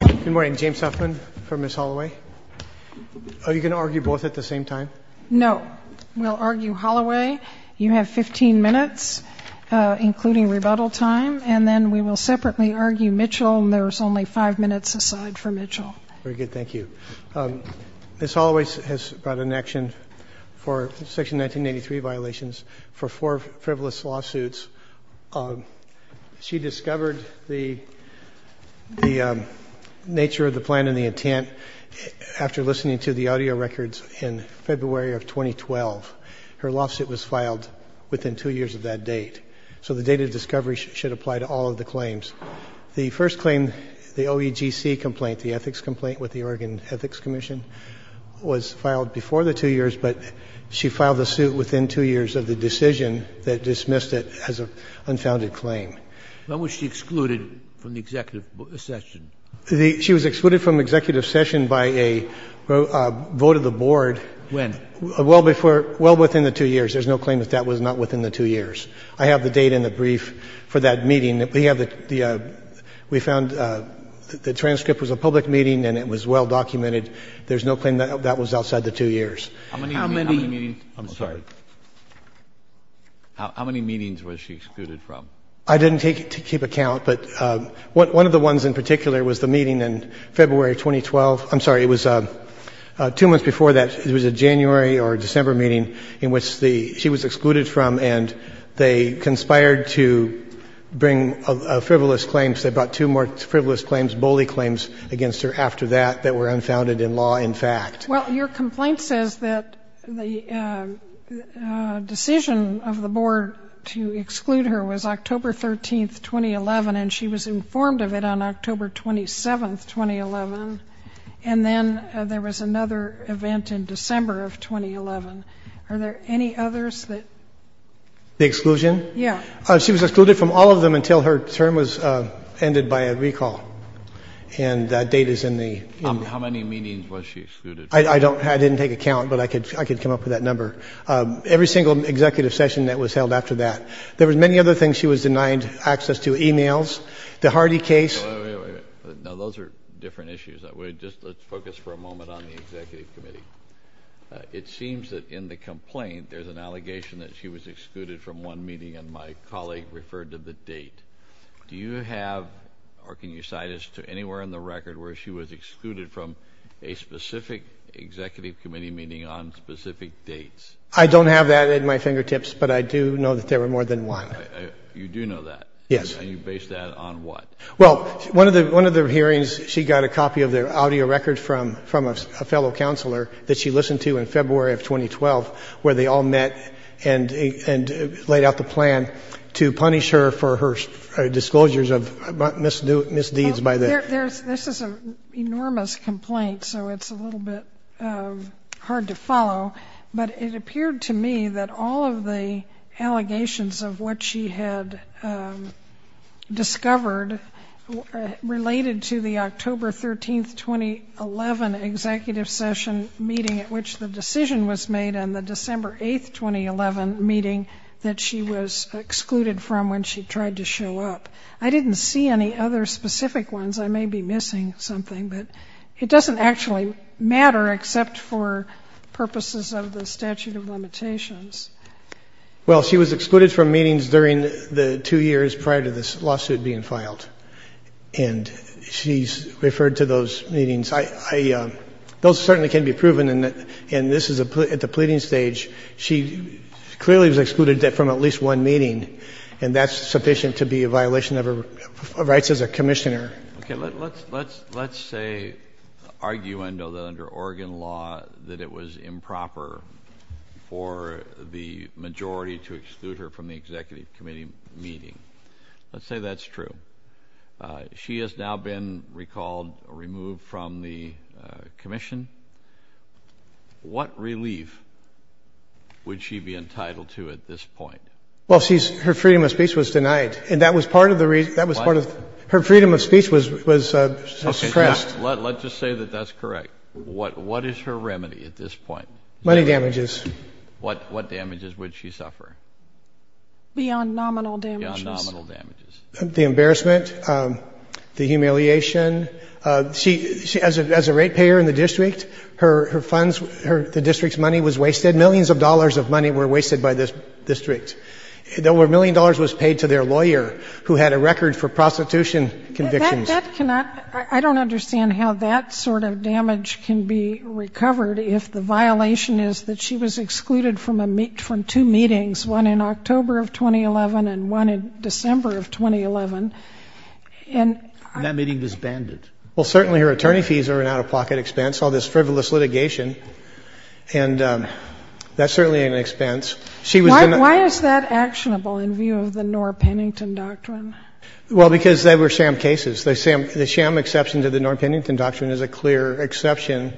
Good morning. James Huffman for Ms. Holloway. Are you going to argue both at the same time? No. We'll argue Holloway. You have 15 minutes, including rebuttal time. And then we will separately argue Mitchell, and there's only five minutes aside for Mitchell. Very good. Thank you. Ms. Holloway has brought an action for Section 1983 violations for four frivolous lawsuits. She discovered the nature of the plan and the intent after listening to the audio records in February of 2012. Her lawsuit was filed within two years of that date, so the date of discovery should apply to all of the claims. The first claim, the OEGC complaint, the ethics complaint with the Oregon Ethics Commission, was filed before the two years, but she filed the suit within two years of the decision that dismissed it as an unfounded claim. When was she excluded from the executive session? She was excluded from executive session by a vote of the board. When? Well before — well within the two years. There's no claim that that was not within the two years. I have the date and the brief for that meeting. We have the — we found the transcript was a public meeting and it was well documented. There's no claim that that was outside the two years. How many — I'm sorry. How many meetings was she excluded from? I didn't take it to keep a count, but one of the ones in particular was the meeting in February 2012. I'm sorry, it was two months before that. It was a January or December meeting in which the — she was excluded from, and they conspired to bring frivolous claims. They brought two more frivolous claims, bully claims, against her after that that were unfounded in law, in fact. Well, your complaint says that the decision of the board to exclude her was October 13, 2011, and she was informed of it on October 27, 2011, and then there was another event in December of 2011. Are there any others that — The exclusion? Yeah. She was excluded from all of them until her term was ended by a recall, and that date is in the — How many meetings was she excluded from? I don't — I didn't take a count, but I could come up with that number. Every single executive session that was held after that. There were many other things. She was denied access to emails. The Hardy case — Wait, wait, wait. Now, those are different issues. Let's focus for a moment on the executive committee. It seems that in the complaint, there's an allegation that she was excluded from one meeting, and my colleague referred to the date. Do you have, or can you cite us to anywhere in the record where she was excluded from a specific executive committee meeting on specific dates? I don't have that at my fingertips, but I do know that there were more than one. You do know that? Yes. And you base that on what? Well, one of the hearings, she got a copy of the audio record from a fellow counselor that she listened to in February of 2012, where they all met and laid out the plan to disclosures of misdeeds by the — This is an enormous complaint, so it's a little bit hard to follow, but it appeared to me that all of the allegations of what she had discovered related to the October 13, 2011, executive session meeting at which the decision was made and the December 8, 2011 meeting that she was excluded from when she tried to show up. I didn't see any other specific ones. I may be missing something, but it doesn't actually matter except for purposes of the statute of limitations. Well, she was excluded from meetings during the two years prior to this lawsuit being filed, and she's referred to those meetings. Those certainly can be proven, and this is at the pleading stage. She clearly was excluded from at least one meeting, and that's sufficient to be a violation of her rights as a commissioner. Okay. Let's say — argue, I know, that under Oregon law that it was improper for the majority to exclude her from the executive committee meeting. Let's say that's true. She has now been recalled or removed from the commission. What relief would she be entitled to at this point? Well, her freedom of speech was denied, and that was part of the — What? Her freedom of speech was suppressed. Let's just say that that's correct. What is her remedy at this point? Money damages. What damages would she suffer? Beyond nominal damages. Beyond nominal damages. The embarrassment, the humiliation. She — as a ratepayer in the district, her funds, the district's money was wasted. Millions of dollars of money were wasted by this district. A million dollars was paid to their lawyer, who had a record for prostitution convictions. That cannot — I don't understand how that sort of damage can be recovered if the violation is that she was excluded from a — from two meetings, one in October of 2011 and one in December of 2011. And that meeting was banned. Well, certainly her attorney fees are an out-of-pocket expense, all this frivolous litigation. And that certainly ain't an expense. She was — Why is that actionable in view of the Norr-Pennington Doctrine? Well, because they were sham cases. The sham exception to the Norr-Pennington Doctrine is a clear exception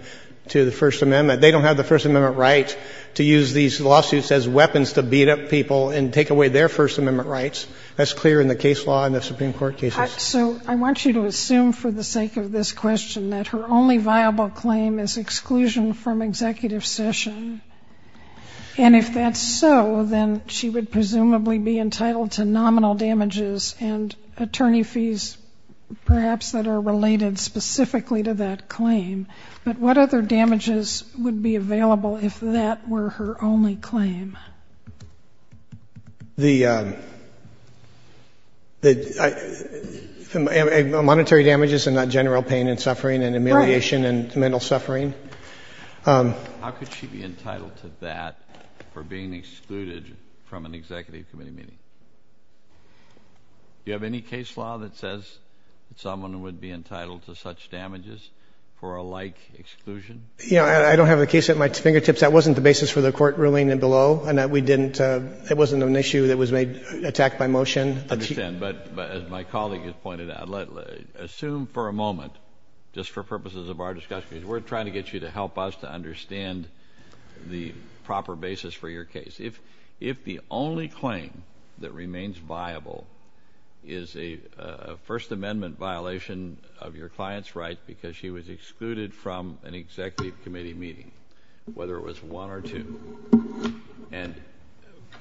to the First Amendment. They don't have the First Amendment right to use these lawsuits as weapons to beat up people and take away their First Amendment rights. That's clear in the case law and the Supreme Court cases. So I want you to assume for the sake of this question that her only viable claim is exclusion from executive session. And if that's so, then she would presumably be entitled to nominal damages and attorney fees, perhaps, that are related specifically to that claim. But what other damages would be available if that were her only claim? The monetary damages and not general pain and suffering and amelioration and mental suffering. How could she be entitled to that for being excluded from an executive committee meeting? Do you have any case law that says someone would be entitled to such damages for a like exclusion? Yeah. I don't have a case at my fingertips. That wasn't the basis for the court ruling below and that we didn't — it wasn't an issue that was made — attacked by motion. I understand. But as my colleague has pointed out, assume for a moment, just for purposes of our discussion, because we're trying to get you to help us to understand the proper basis for your case. If the only claim that remains viable is a First Amendment violation of your client's rights because she was excluded from an executive committee meeting, whether it was one or two, and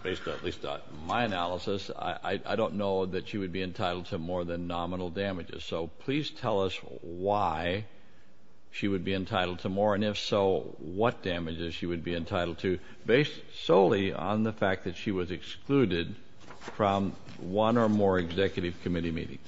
based at least on my analysis, I don't know that she would be entitled to more than nominal damages. So please tell us why she would be entitled to more, and if so, what damages she would be entitled to based solely on the fact that she was excluded from one or more executive committee meetings?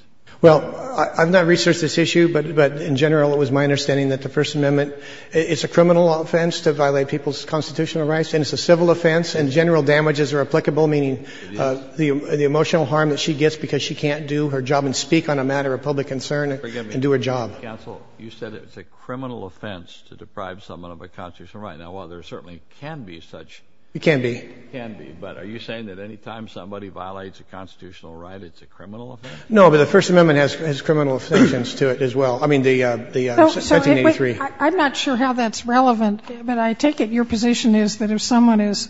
Well, I've not researched this issue, but in general it was my understanding that the First Amendment is a criminal offense to violate people's constitutional rights, and it's a civil offense, and general damages are applicable, meaning the emotional harm that she gets because she can't do her job and speak on a matter of public concern and do her job. Counsel, you said it's a criminal offense to deprive someone of a constitutional right. Now, while there certainly can be such. It can be. It can be. But are you saying that any time somebody violates a constitutional right, it's a criminal offense? No, but the First Amendment has criminal offenses to it as well. I mean, the 1983. I'm not sure how that's relevant, but I take it your position is that if someone is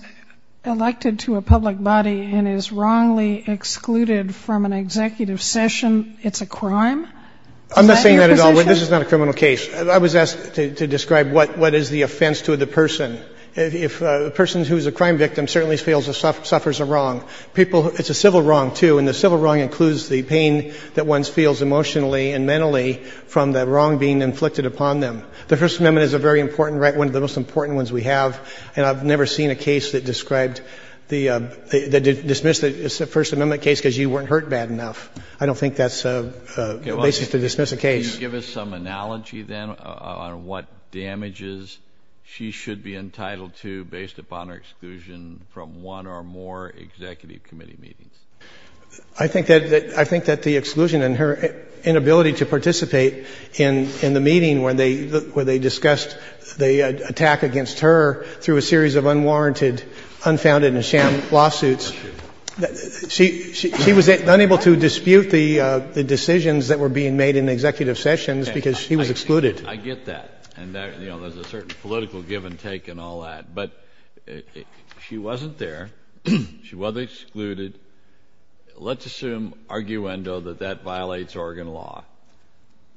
elected to a public body and is wrongly excluded from an executive session, it's a crime? Is that your position? I'm not saying that at all. This is not a criminal case. I was asked to describe what is the offense to the person. A person who is a crime victim certainly feels or suffers a wrong. It's a civil wrong, too, and the civil wrong includes the pain that one feels emotionally and mentally from the wrong being inflicted upon them. The First Amendment is a very important right, one of the most important ones we have, and I've never seen a case that described the — that dismissed the First Amendment case because you weren't hurt bad enough. I don't think that's a basis to dismiss a case. Can you give us some analogy, then, on what damages she should be entitled to based upon her exclusion from one or more executive committee meetings? I think that the exclusion and her inability to participate in the meeting where they discussed the attack against her through a series of unwarranted, unfounded and sham lawsuits, she was unable to dispute the decisions that were being made in executive sessions because she was excluded. I get that. And, you know, there's a certain political give and take in all that. But she wasn't there. She was excluded. Let's assume, arguendo, that that violates Oregon law.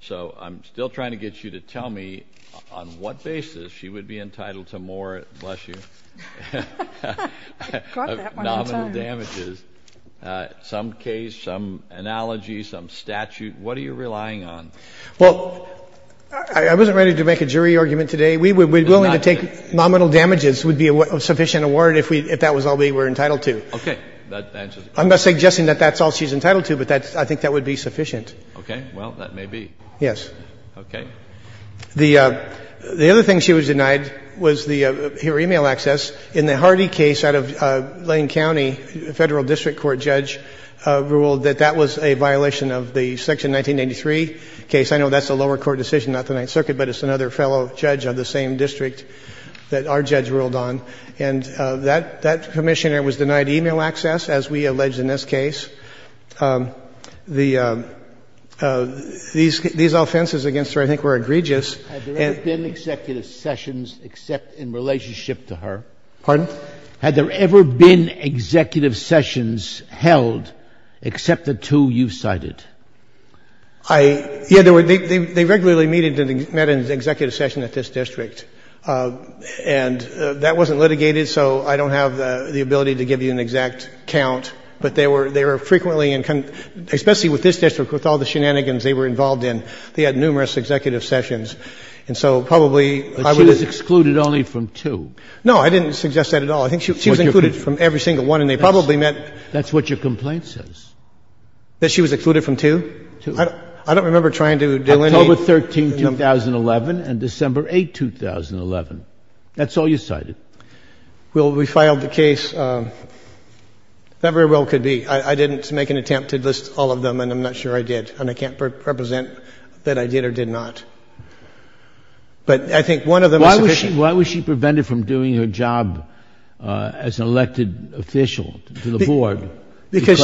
So I'm still trying to get you to tell me on what basis she would be entitled to more, bless you, nominal damages, some case, some analogy, some statute. What are you relying on? Well, I wasn't ready to make a jury argument today. We would be willing to take nominal damages would be a sufficient award if that was all we were entitled to. Okay. That answers it. I'm not suggesting that that's all she's entitled to, but I think that would be sufficient. Okay. Well, that may be. Yes. Okay. The other thing she was denied was her e-mail access. In the Hardy case out of Lane County, a federal district court judge ruled that that was a violation of the Section 1993 case. I know that's a lower court decision, not the Ninth Circuit, but it's another fellow judge of the same district that our judge ruled on. And that commissioner was denied e-mail access, as we allege in this case. These offenses against her, I think, were egregious. Had there ever been executive sessions except in relationship to her? Pardon? Had there ever been executive sessions held except the two you've cited? Yeah. They regularly met in an executive session at this district. And that wasn't litigated, so I don't have the ability to give you an exact count. But they were frequently, especially with this district, with all the shenanigans they were involved in, they had numerous executive sessions. And so probably I wouldn't. But she was excluded only from two. No, I didn't suggest that at all. I think she was excluded from every single one, and they probably met. That's what your complaint says. That she was excluded from two? Two. I don't remember trying to delineate. October 13, 2011, and December 8, 2011. That's all you cited. Well, we filed the case. That very well could be. I didn't make an attempt to list all of them, and I'm not sure I did. And I can't represent that I did or did not. But I think one of them is sufficient. Why was she prevented from doing her job as an elected official to the board? Because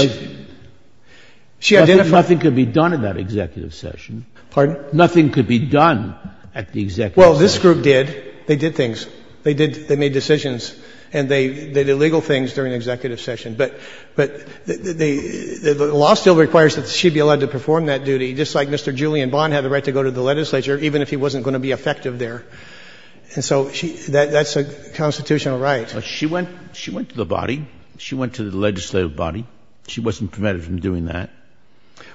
she identified. Nothing could be done in that executive session. Pardon? Nothing could be done at the executive session. Well, this group did. They did things. They made decisions, and they did illegal things during the executive session. But the law still requires that she be allowed to perform that duty, just like Mr. Julian Bond had the right to go to the legislature, even if he wasn't going to be effective there. And so that's a constitutional right. She went to the body. She went to the legislative body. She wasn't prevented from doing that.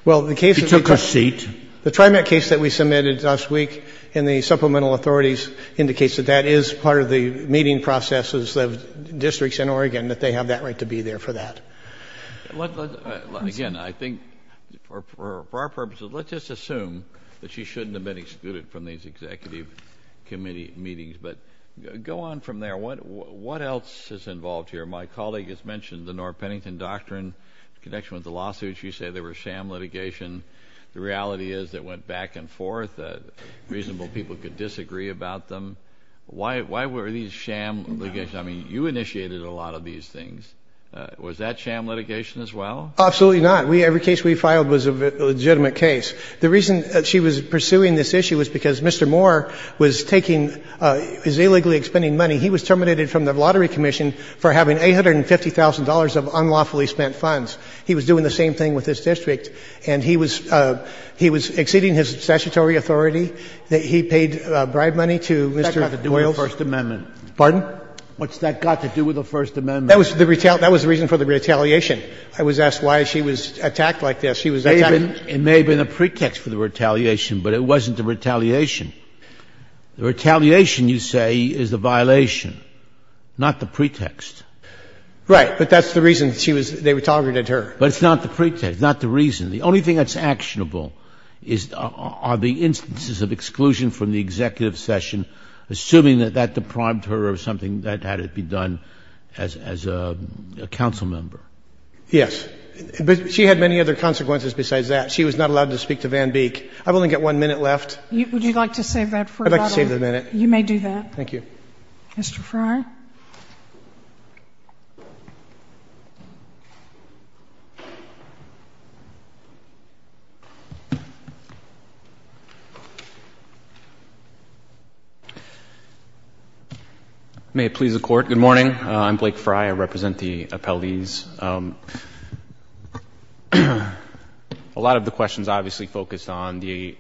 She took her seat. The TriMet case that we submitted last week in the supplemental authorities indicates that that is part of the meeting processes of districts in Oregon, that they have that right to be there for that. Again, I think for our purposes, let's just assume that she shouldn't have been excluded from these executive committee meetings. But go on from there. What else is involved here? My colleague has mentioned the North Pennington Doctrine in connection with the lawsuit. She said there was sham litigation. The reality is it went back and forth. Reasonable people could disagree about them. Why were these sham litigation? I mean, you initiated a lot of these things. Was that sham litigation as well? Absolutely not. Every case we filed was a legitimate case. The reason she was pursuing this issue was because Mr. Moore was taking his illegally expending money. He was terminated from the Lottery Commission for having $850,000 of unlawfully spent funds. He was doing the same thing with this district. And he was exceeding his statutory authority. He paid bribe money to Mr. Doyles. What's that got to do with the First Amendment? Pardon? What's that got to do with the First Amendment? That was the reason for the retaliation. I was asked why she was attacked like this. She was attacked. It may have been a pretext for the retaliation, but it wasn't the retaliation. The retaliation, you say, is the violation, not the pretext. Right. But that's the reason they targeted her. But it's not the pretext. It's not the reason. The only thing that's actionable are the instances of exclusion from the executive session, assuming that that deprived her of something that had to be done as a council member. Yes. But she had many other consequences besides that. She was not allowed to speak to Van Beek. I've only got one minute left. Would you like to save that for later? I'd like to save the minute. You may do that. Thank you. Thank you. Mr. Frey? May it please the Court, good morning. I'm Blake Frey. I represent the appellees. A lot of the questions obviously focus on the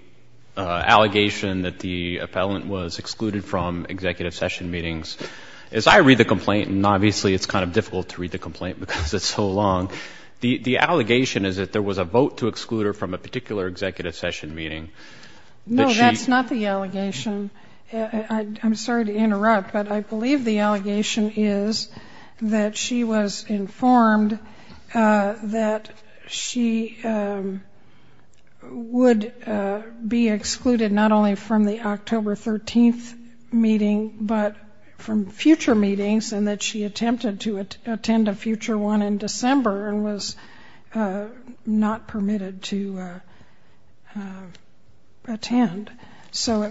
allegation that the appellant was excluded from executive session meetings. As I read the complaint, and obviously it's kind of difficult to read the complaint because it's so long, the allegation is that there was a vote to exclude her from a particular executive session meeting. No, that's not the allegation. I'm sorry to interrupt, but I believe the allegation is that she was informed that she would be excluded not only from the October 13th meeting, but from future meetings, and that she attempted to attend a future one in December and was not permitted to attend. So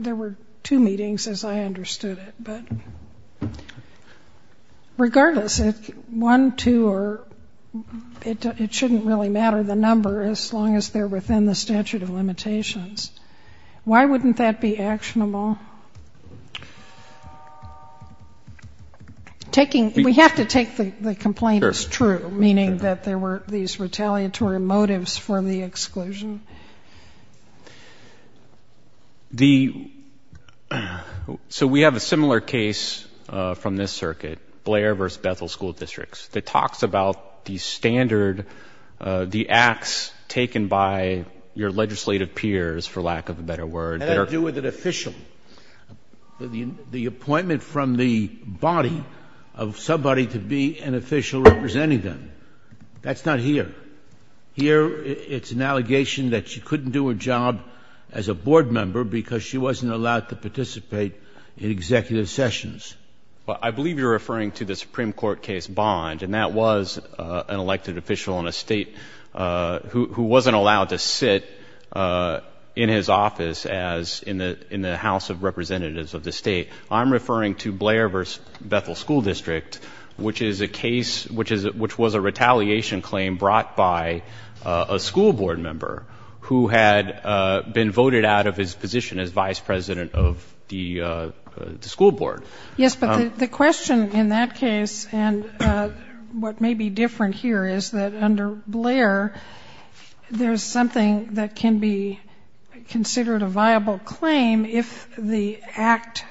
there were two meetings, as I understood it. Regardless, one, two, it shouldn't really matter the number as long as they're within the statute of limitations. Why wouldn't that be actionable? We have to take the complaint as true, meaning that there were these retaliatory motives for the exclusion. So we have a similar case from this circuit, Blair v. Bethel School Districts, that talks about the standard, the acts taken by your legislative peers, for lack of a better word, that are How does that deal with an official? The appointment from the body of somebody to be an official representing them. That's not here. Here, it's an allegation that she couldn't do her job as a board member because she wasn't allowed to participate in executive sessions. I believe you're referring to the Supreme Court case Bond, and that was an elected official in a state who wasn't allowed to sit in his office as in the House of Representatives of the state. I'm referring to Blair v. Bethel School District, which is a case which was a retaliation claim brought by a school board member who had been voted out of his position as vice president of the school board. Yes, but the question in that case and what may be different here is that under Blair, there's something that can be considered a viable claim if the act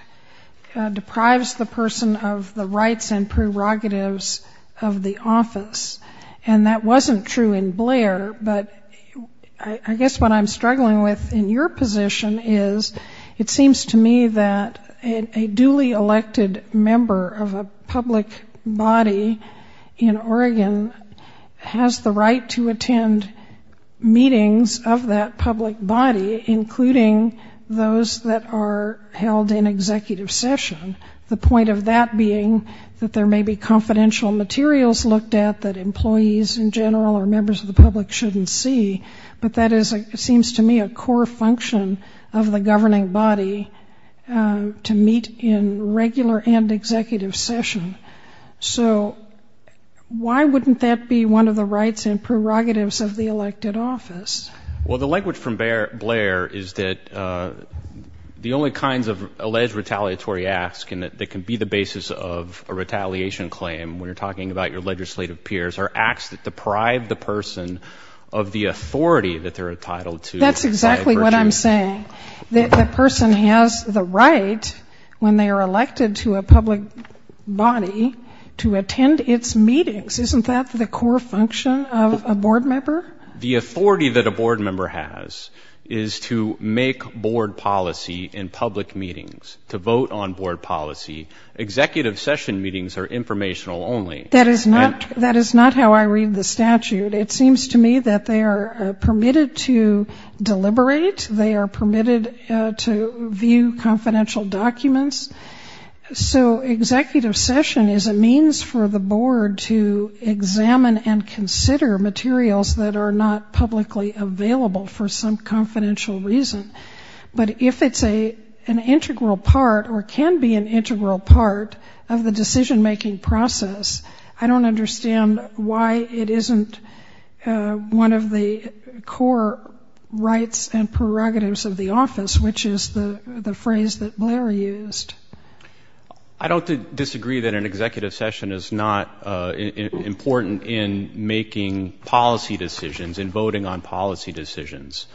deprives the person of the rights and prerogatives of the office. And that wasn't true in Blair, but I guess what I'm struggling with in your position is it seems to me that a duly elected member of a public body in Oregon has the right to attend meetings of that public body, including those that are held in executive session, the point of that being that there may be confidential materials looked at that employees in general or members of the public shouldn't see. But that seems to me a core function of the governing body, to meet in regular and executive session. So why wouldn't that be one of the rights and prerogatives of the elected office? Well, the language from Blair is that the only kinds of alleged retaliatory acts that can be the basis of a retaliation claim, when you're talking about your legislative peers, are acts that deprive the person of the authority that they're entitled to. That's exactly what I'm saying. The person has the right, when they are elected to a public body, to attend its meetings. Isn't that the core function of a board member? The authority that a board member has is to make board policy in public meetings, to vote on board policy. Executive session meetings are informational only. That is not how I read the statute. It seems to me that they are permitted to deliberate. They are permitted to view confidential documents. So executive session is a means for the board to examine and consider materials that are not publicly available for some confidential reason. But if it's an integral part or can be an integral part of the decision-making process, I don't understand why it isn't one of the core rights and prerogatives of the office, which is the phrase that Blair used. I don't disagree that an executive session is not important in making policy decisions, in voting on policy decisions.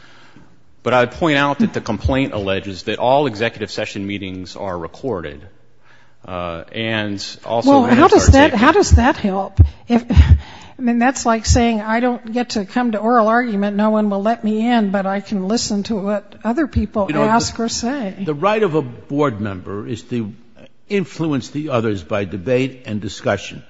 But I would point out that the complaint alleges that all executive session meetings are recorded. And also... Well, how does that help? I mean, that's like saying I don't get to come to oral argument, no one will let me in, but I can listen to what other people ask or say. The right of a board member is to influence the others by debate and discussion.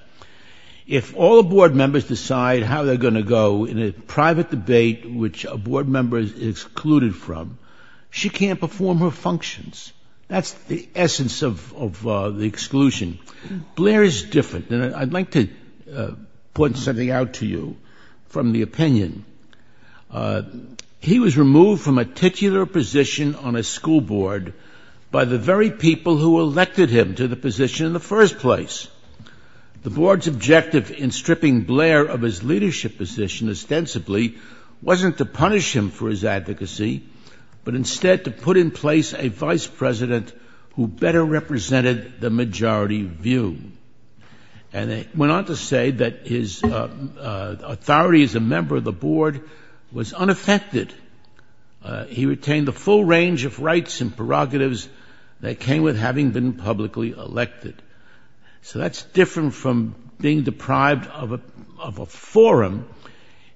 If all board members decide how they're going to go in a private debate which a board member is excluded from, she can't perform her functions. That's the essence of the exclusion. Blair is different. And I'd like to point something out to you from the opinion. He was removed from a particular position on a school board by the very people who elected him to the position in the first place. The board's objective in stripping Blair of his leadership position ostensibly wasn't to punish him for his advocacy, but instead to put in place a vice president who better represented the majority view. And went on to say that his authority as a member of the board was unaffected. He retained the full range of rights and prerogatives that came with having been publicly elected. So that's different from being deprived of a forum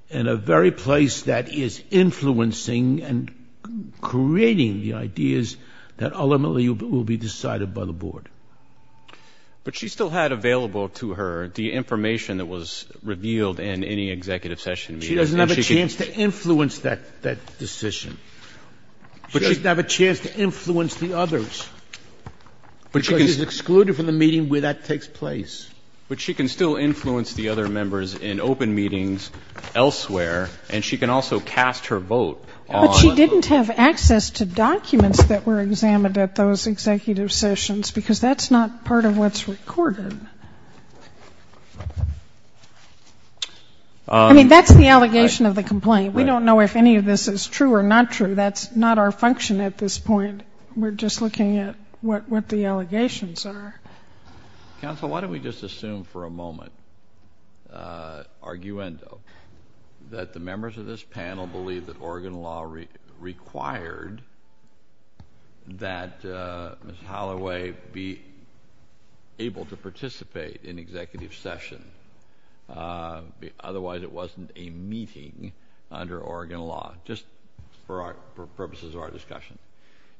in a very place that is influencing and creating the ideas that ultimately will be decided by the board. But she still had available to her the information that was revealed in any executive session meeting. She doesn't have a chance to influence that decision. She doesn't have a chance to influence the others. Because she's excluded from the meeting where that takes place. But she can still influence the other members in open meetings elsewhere, and she can also cast her vote on the board. And I'm not going to go into the executive sessions because that's not part of what's recorded. I mean, that's the allegation of the complaint. We don't know if any of this is true or not true. That's not our function at this point. We're just looking at what the allegations are. Counsel, why don't we just assume for a moment, arguendo, that the members of this panel believe that Oregon law required that Ms. Holloway be able to participate in executive session. Otherwise, it wasn't a meeting under Oregon law, just for purposes of our discussion.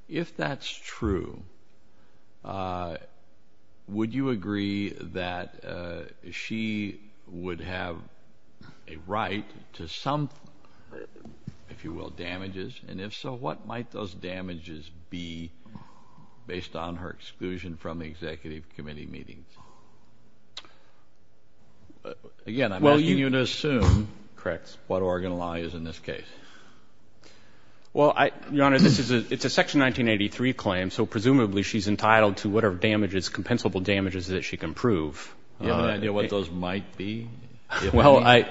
If that's true, would you agree that she would have a right to some, if you will, damages? And if so, what might those damages be based on her exclusion from the executive committee meetings? Again, I'm asking you to assume what Oregon law is in this case. Well, Your Honor, it's a Section 1983 claim, so presumably she's entitled to whatever damages, compensable damages that she can prove. Do you have any idea what those might be? Well, I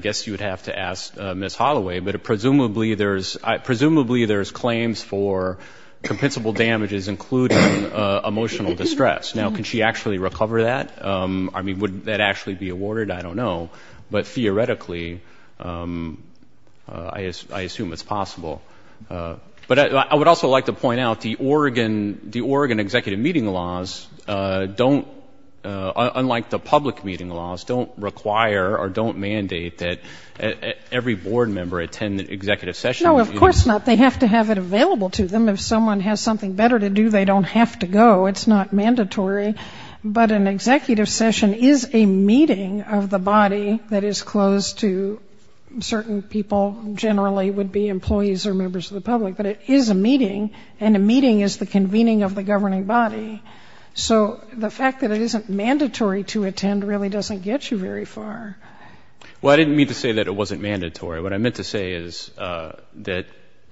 guess you would have to ask Ms. Holloway, but presumably there's claims for compensable damages including emotional distress. Now, can she actually recover that? I mean, would that actually be awarded? I don't know. But theoretically, I assume it's possible. But I would also like to point out the Oregon executive meeting laws don't, unlike the public meeting laws, don't require or don't mandate that every board member attend an executive session. No, of course not. They have to have it available to them. If someone has something better to do, they don't have to go. It's not mandatory. But an executive session is a meeting of the body that is closed to certain people, generally would-be employees or members of the public. But it is a meeting, and a meeting is the convening of the governing body. So the fact that it isn't mandatory to attend really doesn't get you very far. Well, I didn't mean to say that it wasn't mandatory. What I meant to say is that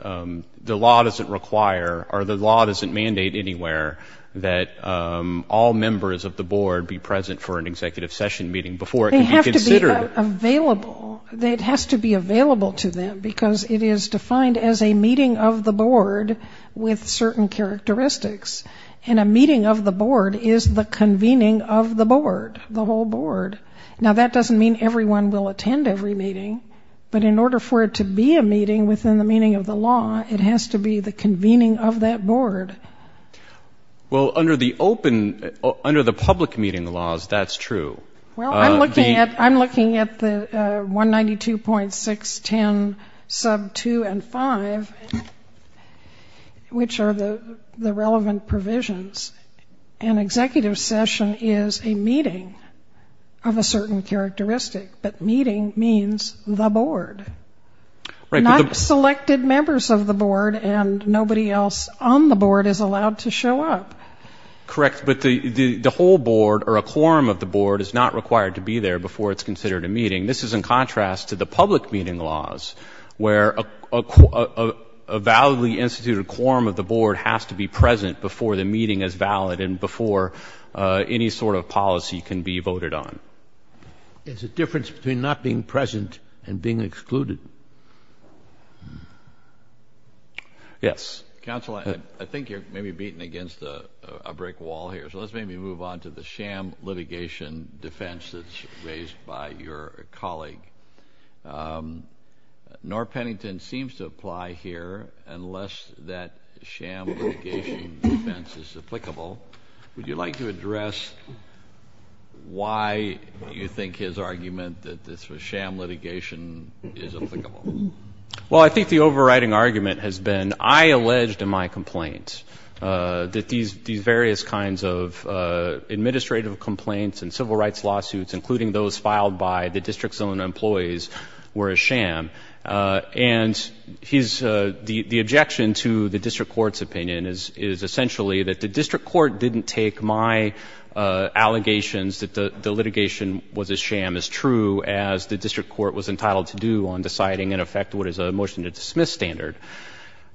the law doesn't require or the law doesn't mandate anywhere that all members of the board be present for an executive session meeting before it can be considered. They have to be available. It has to be available to them because it is defined as a meeting of the board with certain characteristics. And a meeting of the board is the convening of the board, the whole board. Now, that doesn't mean everyone will attend every meeting, but in order for it to be a meeting within the meaning of the law, it has to be the convening of that board. Well, under the open, under the public meeting laws, that's true. Well, I'm looking at the 192.610 sub 2 and 5, which are the relevant provisions. An executive session is a meeting of a certain characteristic, but meeting means the board. Not selected members of the board and nobody else on the board is allowed to show up. Correct. But the whole board or a quorum of the board is not required to be there before it's considered a meeting. This is in contrast to the public meeting laws, where a validly instituted quorum of the board has to be present before the meeting is valid and before any sort of policy can be voted on. There's a difference between not being present and being excluded. Yes. Counsel, I think you're maybe beating against a brick wall here, so let's maybe move on to the sham litigation defense that's raised by your colleague. Norm Pennington seems to apply here unless that sham litigation defense is applicable. Would you like to address why you think his argument that this was sham litigation is applicable? Well, I think the overriding argument has been I alleged in my complaint that these various kinds of administrative complaints and civil rights lawsuits, including those filed by the district's own employees, were a sham. And the objection to the district court's opinion is essentially that the district court didn't take my allegations that the litigation was a sham as true as the district court was entitled to do on deciding, in effect, what is a motion to dismiss standard.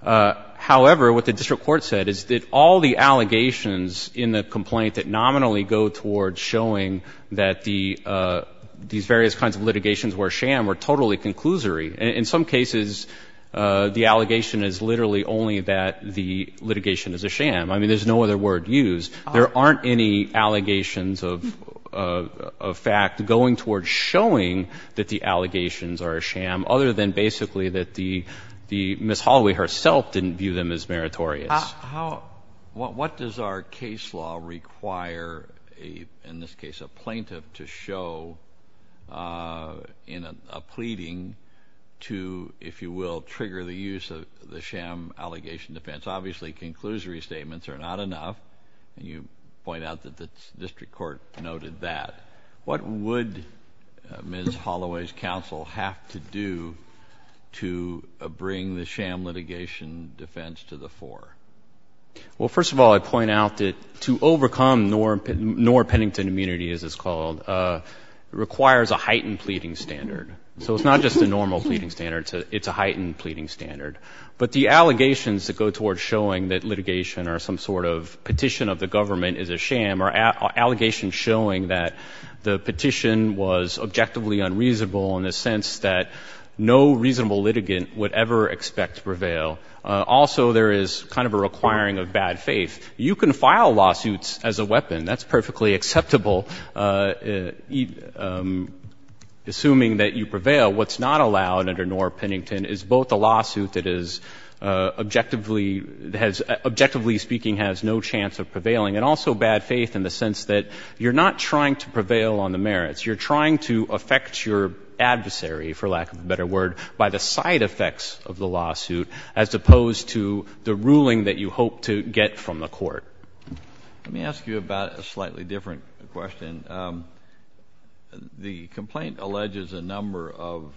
However, what the district court said is that all the allegations in the complaint that nominally go towards showing that these various kinds of litigations were a sham were totally conclusory. In some cases, the allegation is literally only that the litigation is a sham. I mean, there's no other word used. There aren't any allegations of fact going towards showing that the allegations are a sham, other than basically that Ms. Holloway herself didn't view them as meritorious. What does our case law require, in this case, a plaintiff to show in a pleading to, if you will, trigger the use of the sham allegation defense? Obviously, conclusory statements are not enough, and you point out that the district court noted that. What would Ms. Holloway's counsel have to do to bring the sham litigation defense to the fore? Well, first of all, I'd point out that to overcome Knorr-Pennington immunity, as it's called, requires a heightened pleading standard. So it's not just a normal pleading standard. It's a heightened pleading standard. But the allegations that go towards showing that litigation or some sort of petition of the government is a sham are allegations showing that the petition was objectively unreasonable, in the sense that no reasonable litigant would ever expect to prevail. Also, there is kind of a requiring of bad faith. You can file lawsuits as a weapon. That's perfectly acceptable, assuming that you prevail. What's not allowed under Knorr-Pennington is both the lawsuit that is objectively speaking has no chance of prevailing, and also bad faith in the sense that you're not trying to prevail on the merits. You're trying to affect your adversary, for lack of a better word, by the side effects of the lawsuit, as opposed to the ruling that you hope to get from the court. Let me ask you about a slightly different question. The complaint alleges a number of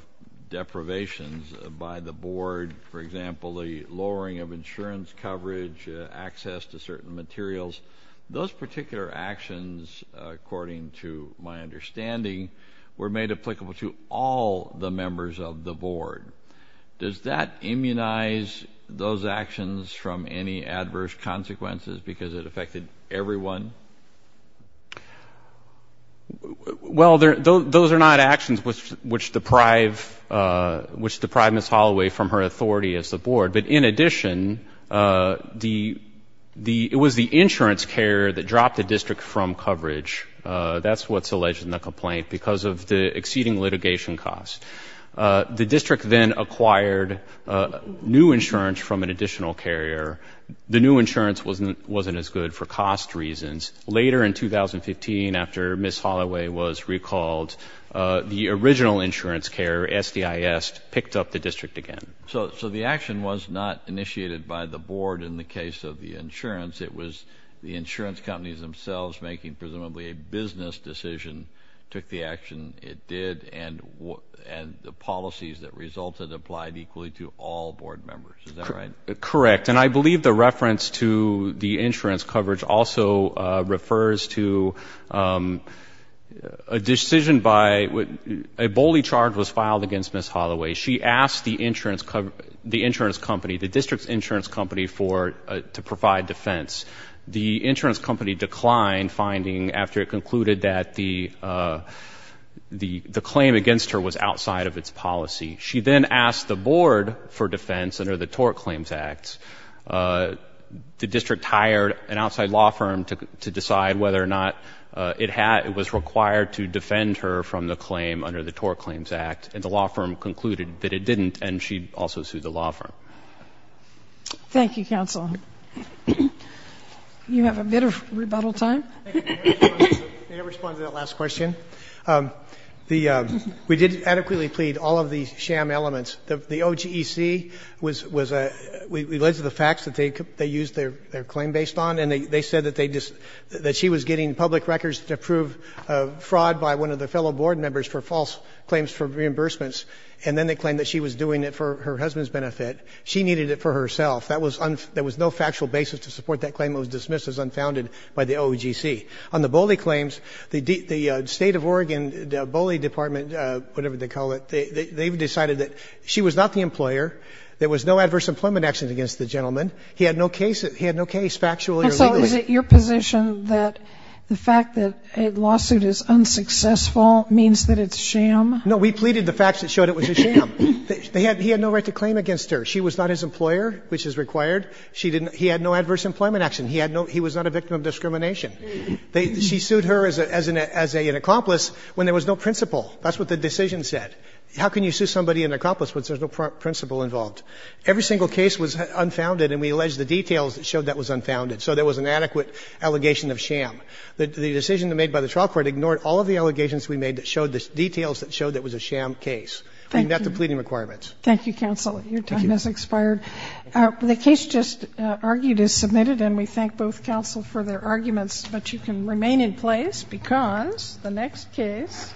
deprivations by the board. For example, the lowering of insurance coverage, access to certain materials. Those particular actions, according to my understanding, were made applicable to all the members of the board. Does that immunize those actions from any adverse consequences because it affected everyone? Well, those are not actions which deprive Ms. Holloway from her authority as the board. But in addition, it was the insurance carrier that dropped the district from coverage. That's what's alleged in the complaint because of the exceeding litigation costs. The district then acquired new insurance from an additional carrier. The new insurance wasn't as good for cost reasons. Later in 2015, after Ms. Holloway was recalled, the original insurance carrier, SDIS, picked up the district again. So the action was not initiated by the board in the case of the insurance. It was the insurance companies themselves making presumably a business decision, took the action it did, and the policies that resulted applied equally to all board members. Is that right? Correct. And I believe the reference to the insurance coverage also refers to a decision by a bully charge was filed against Ms. Holloway. She asked the insurance company, the district's insurance company, to provide defense. The insurance company declined, finding after it concluded that the claim against her was outside of its policy. She then asked the board for defense under the Tort Claims Act. The district hired an outside law firm to decide whether or not it was required to defend her from the claim under the Tort Claims Act. And the law firm concluded that it didn't, and she also sued the law firm. Thank you, counsel. You have a bit of rebuttal time. May I respond to that last question? We did adequately plead all of the sham elements. The OGEC was a ‑‑ we alleged the facts that they used their claim based on, and they said that she was getting public records to prove fraud by one of the fellow board members for false claims for reimbursements, and then they claimed that she was doing it for her husband's benefit. She needed it for herself. There was no factual basis to support that claim. It was dismissed as unfounded by the OGEC. On the bully claims, the State of Oregon Bully Department, whatever they call it, they've decided that she was not the employer. There was no adverse employment action against the gentleman. He had no case factual or legally. Counsel, is it your position that the fact that a lawsuit is unsuccessful means that it's sham? No, we pleaded the facts that showed it was a sham. He had no right to claim against her. She was not his employer, which is required. She didn't ‑‑ he had no adverse employment action. He was not a victim of discrimination. She sued her as an accomplice when there was no principle. That's what the decision said. How can you sue somebody an accomplice when there's no principle involved? Every single case was unfounded, and we alleged the details that showed that was unfounded. So there was an adequate allegation of sham. The decision made by the trial court ignored all of the allegations we made that showed the details that showed that it was a sham case. I mean, that's the pleading requirements. Thank you, counsel. Your time has expired. The case just argued is submitted, and we thank both counsel for their arguments but you can remain in place because the next case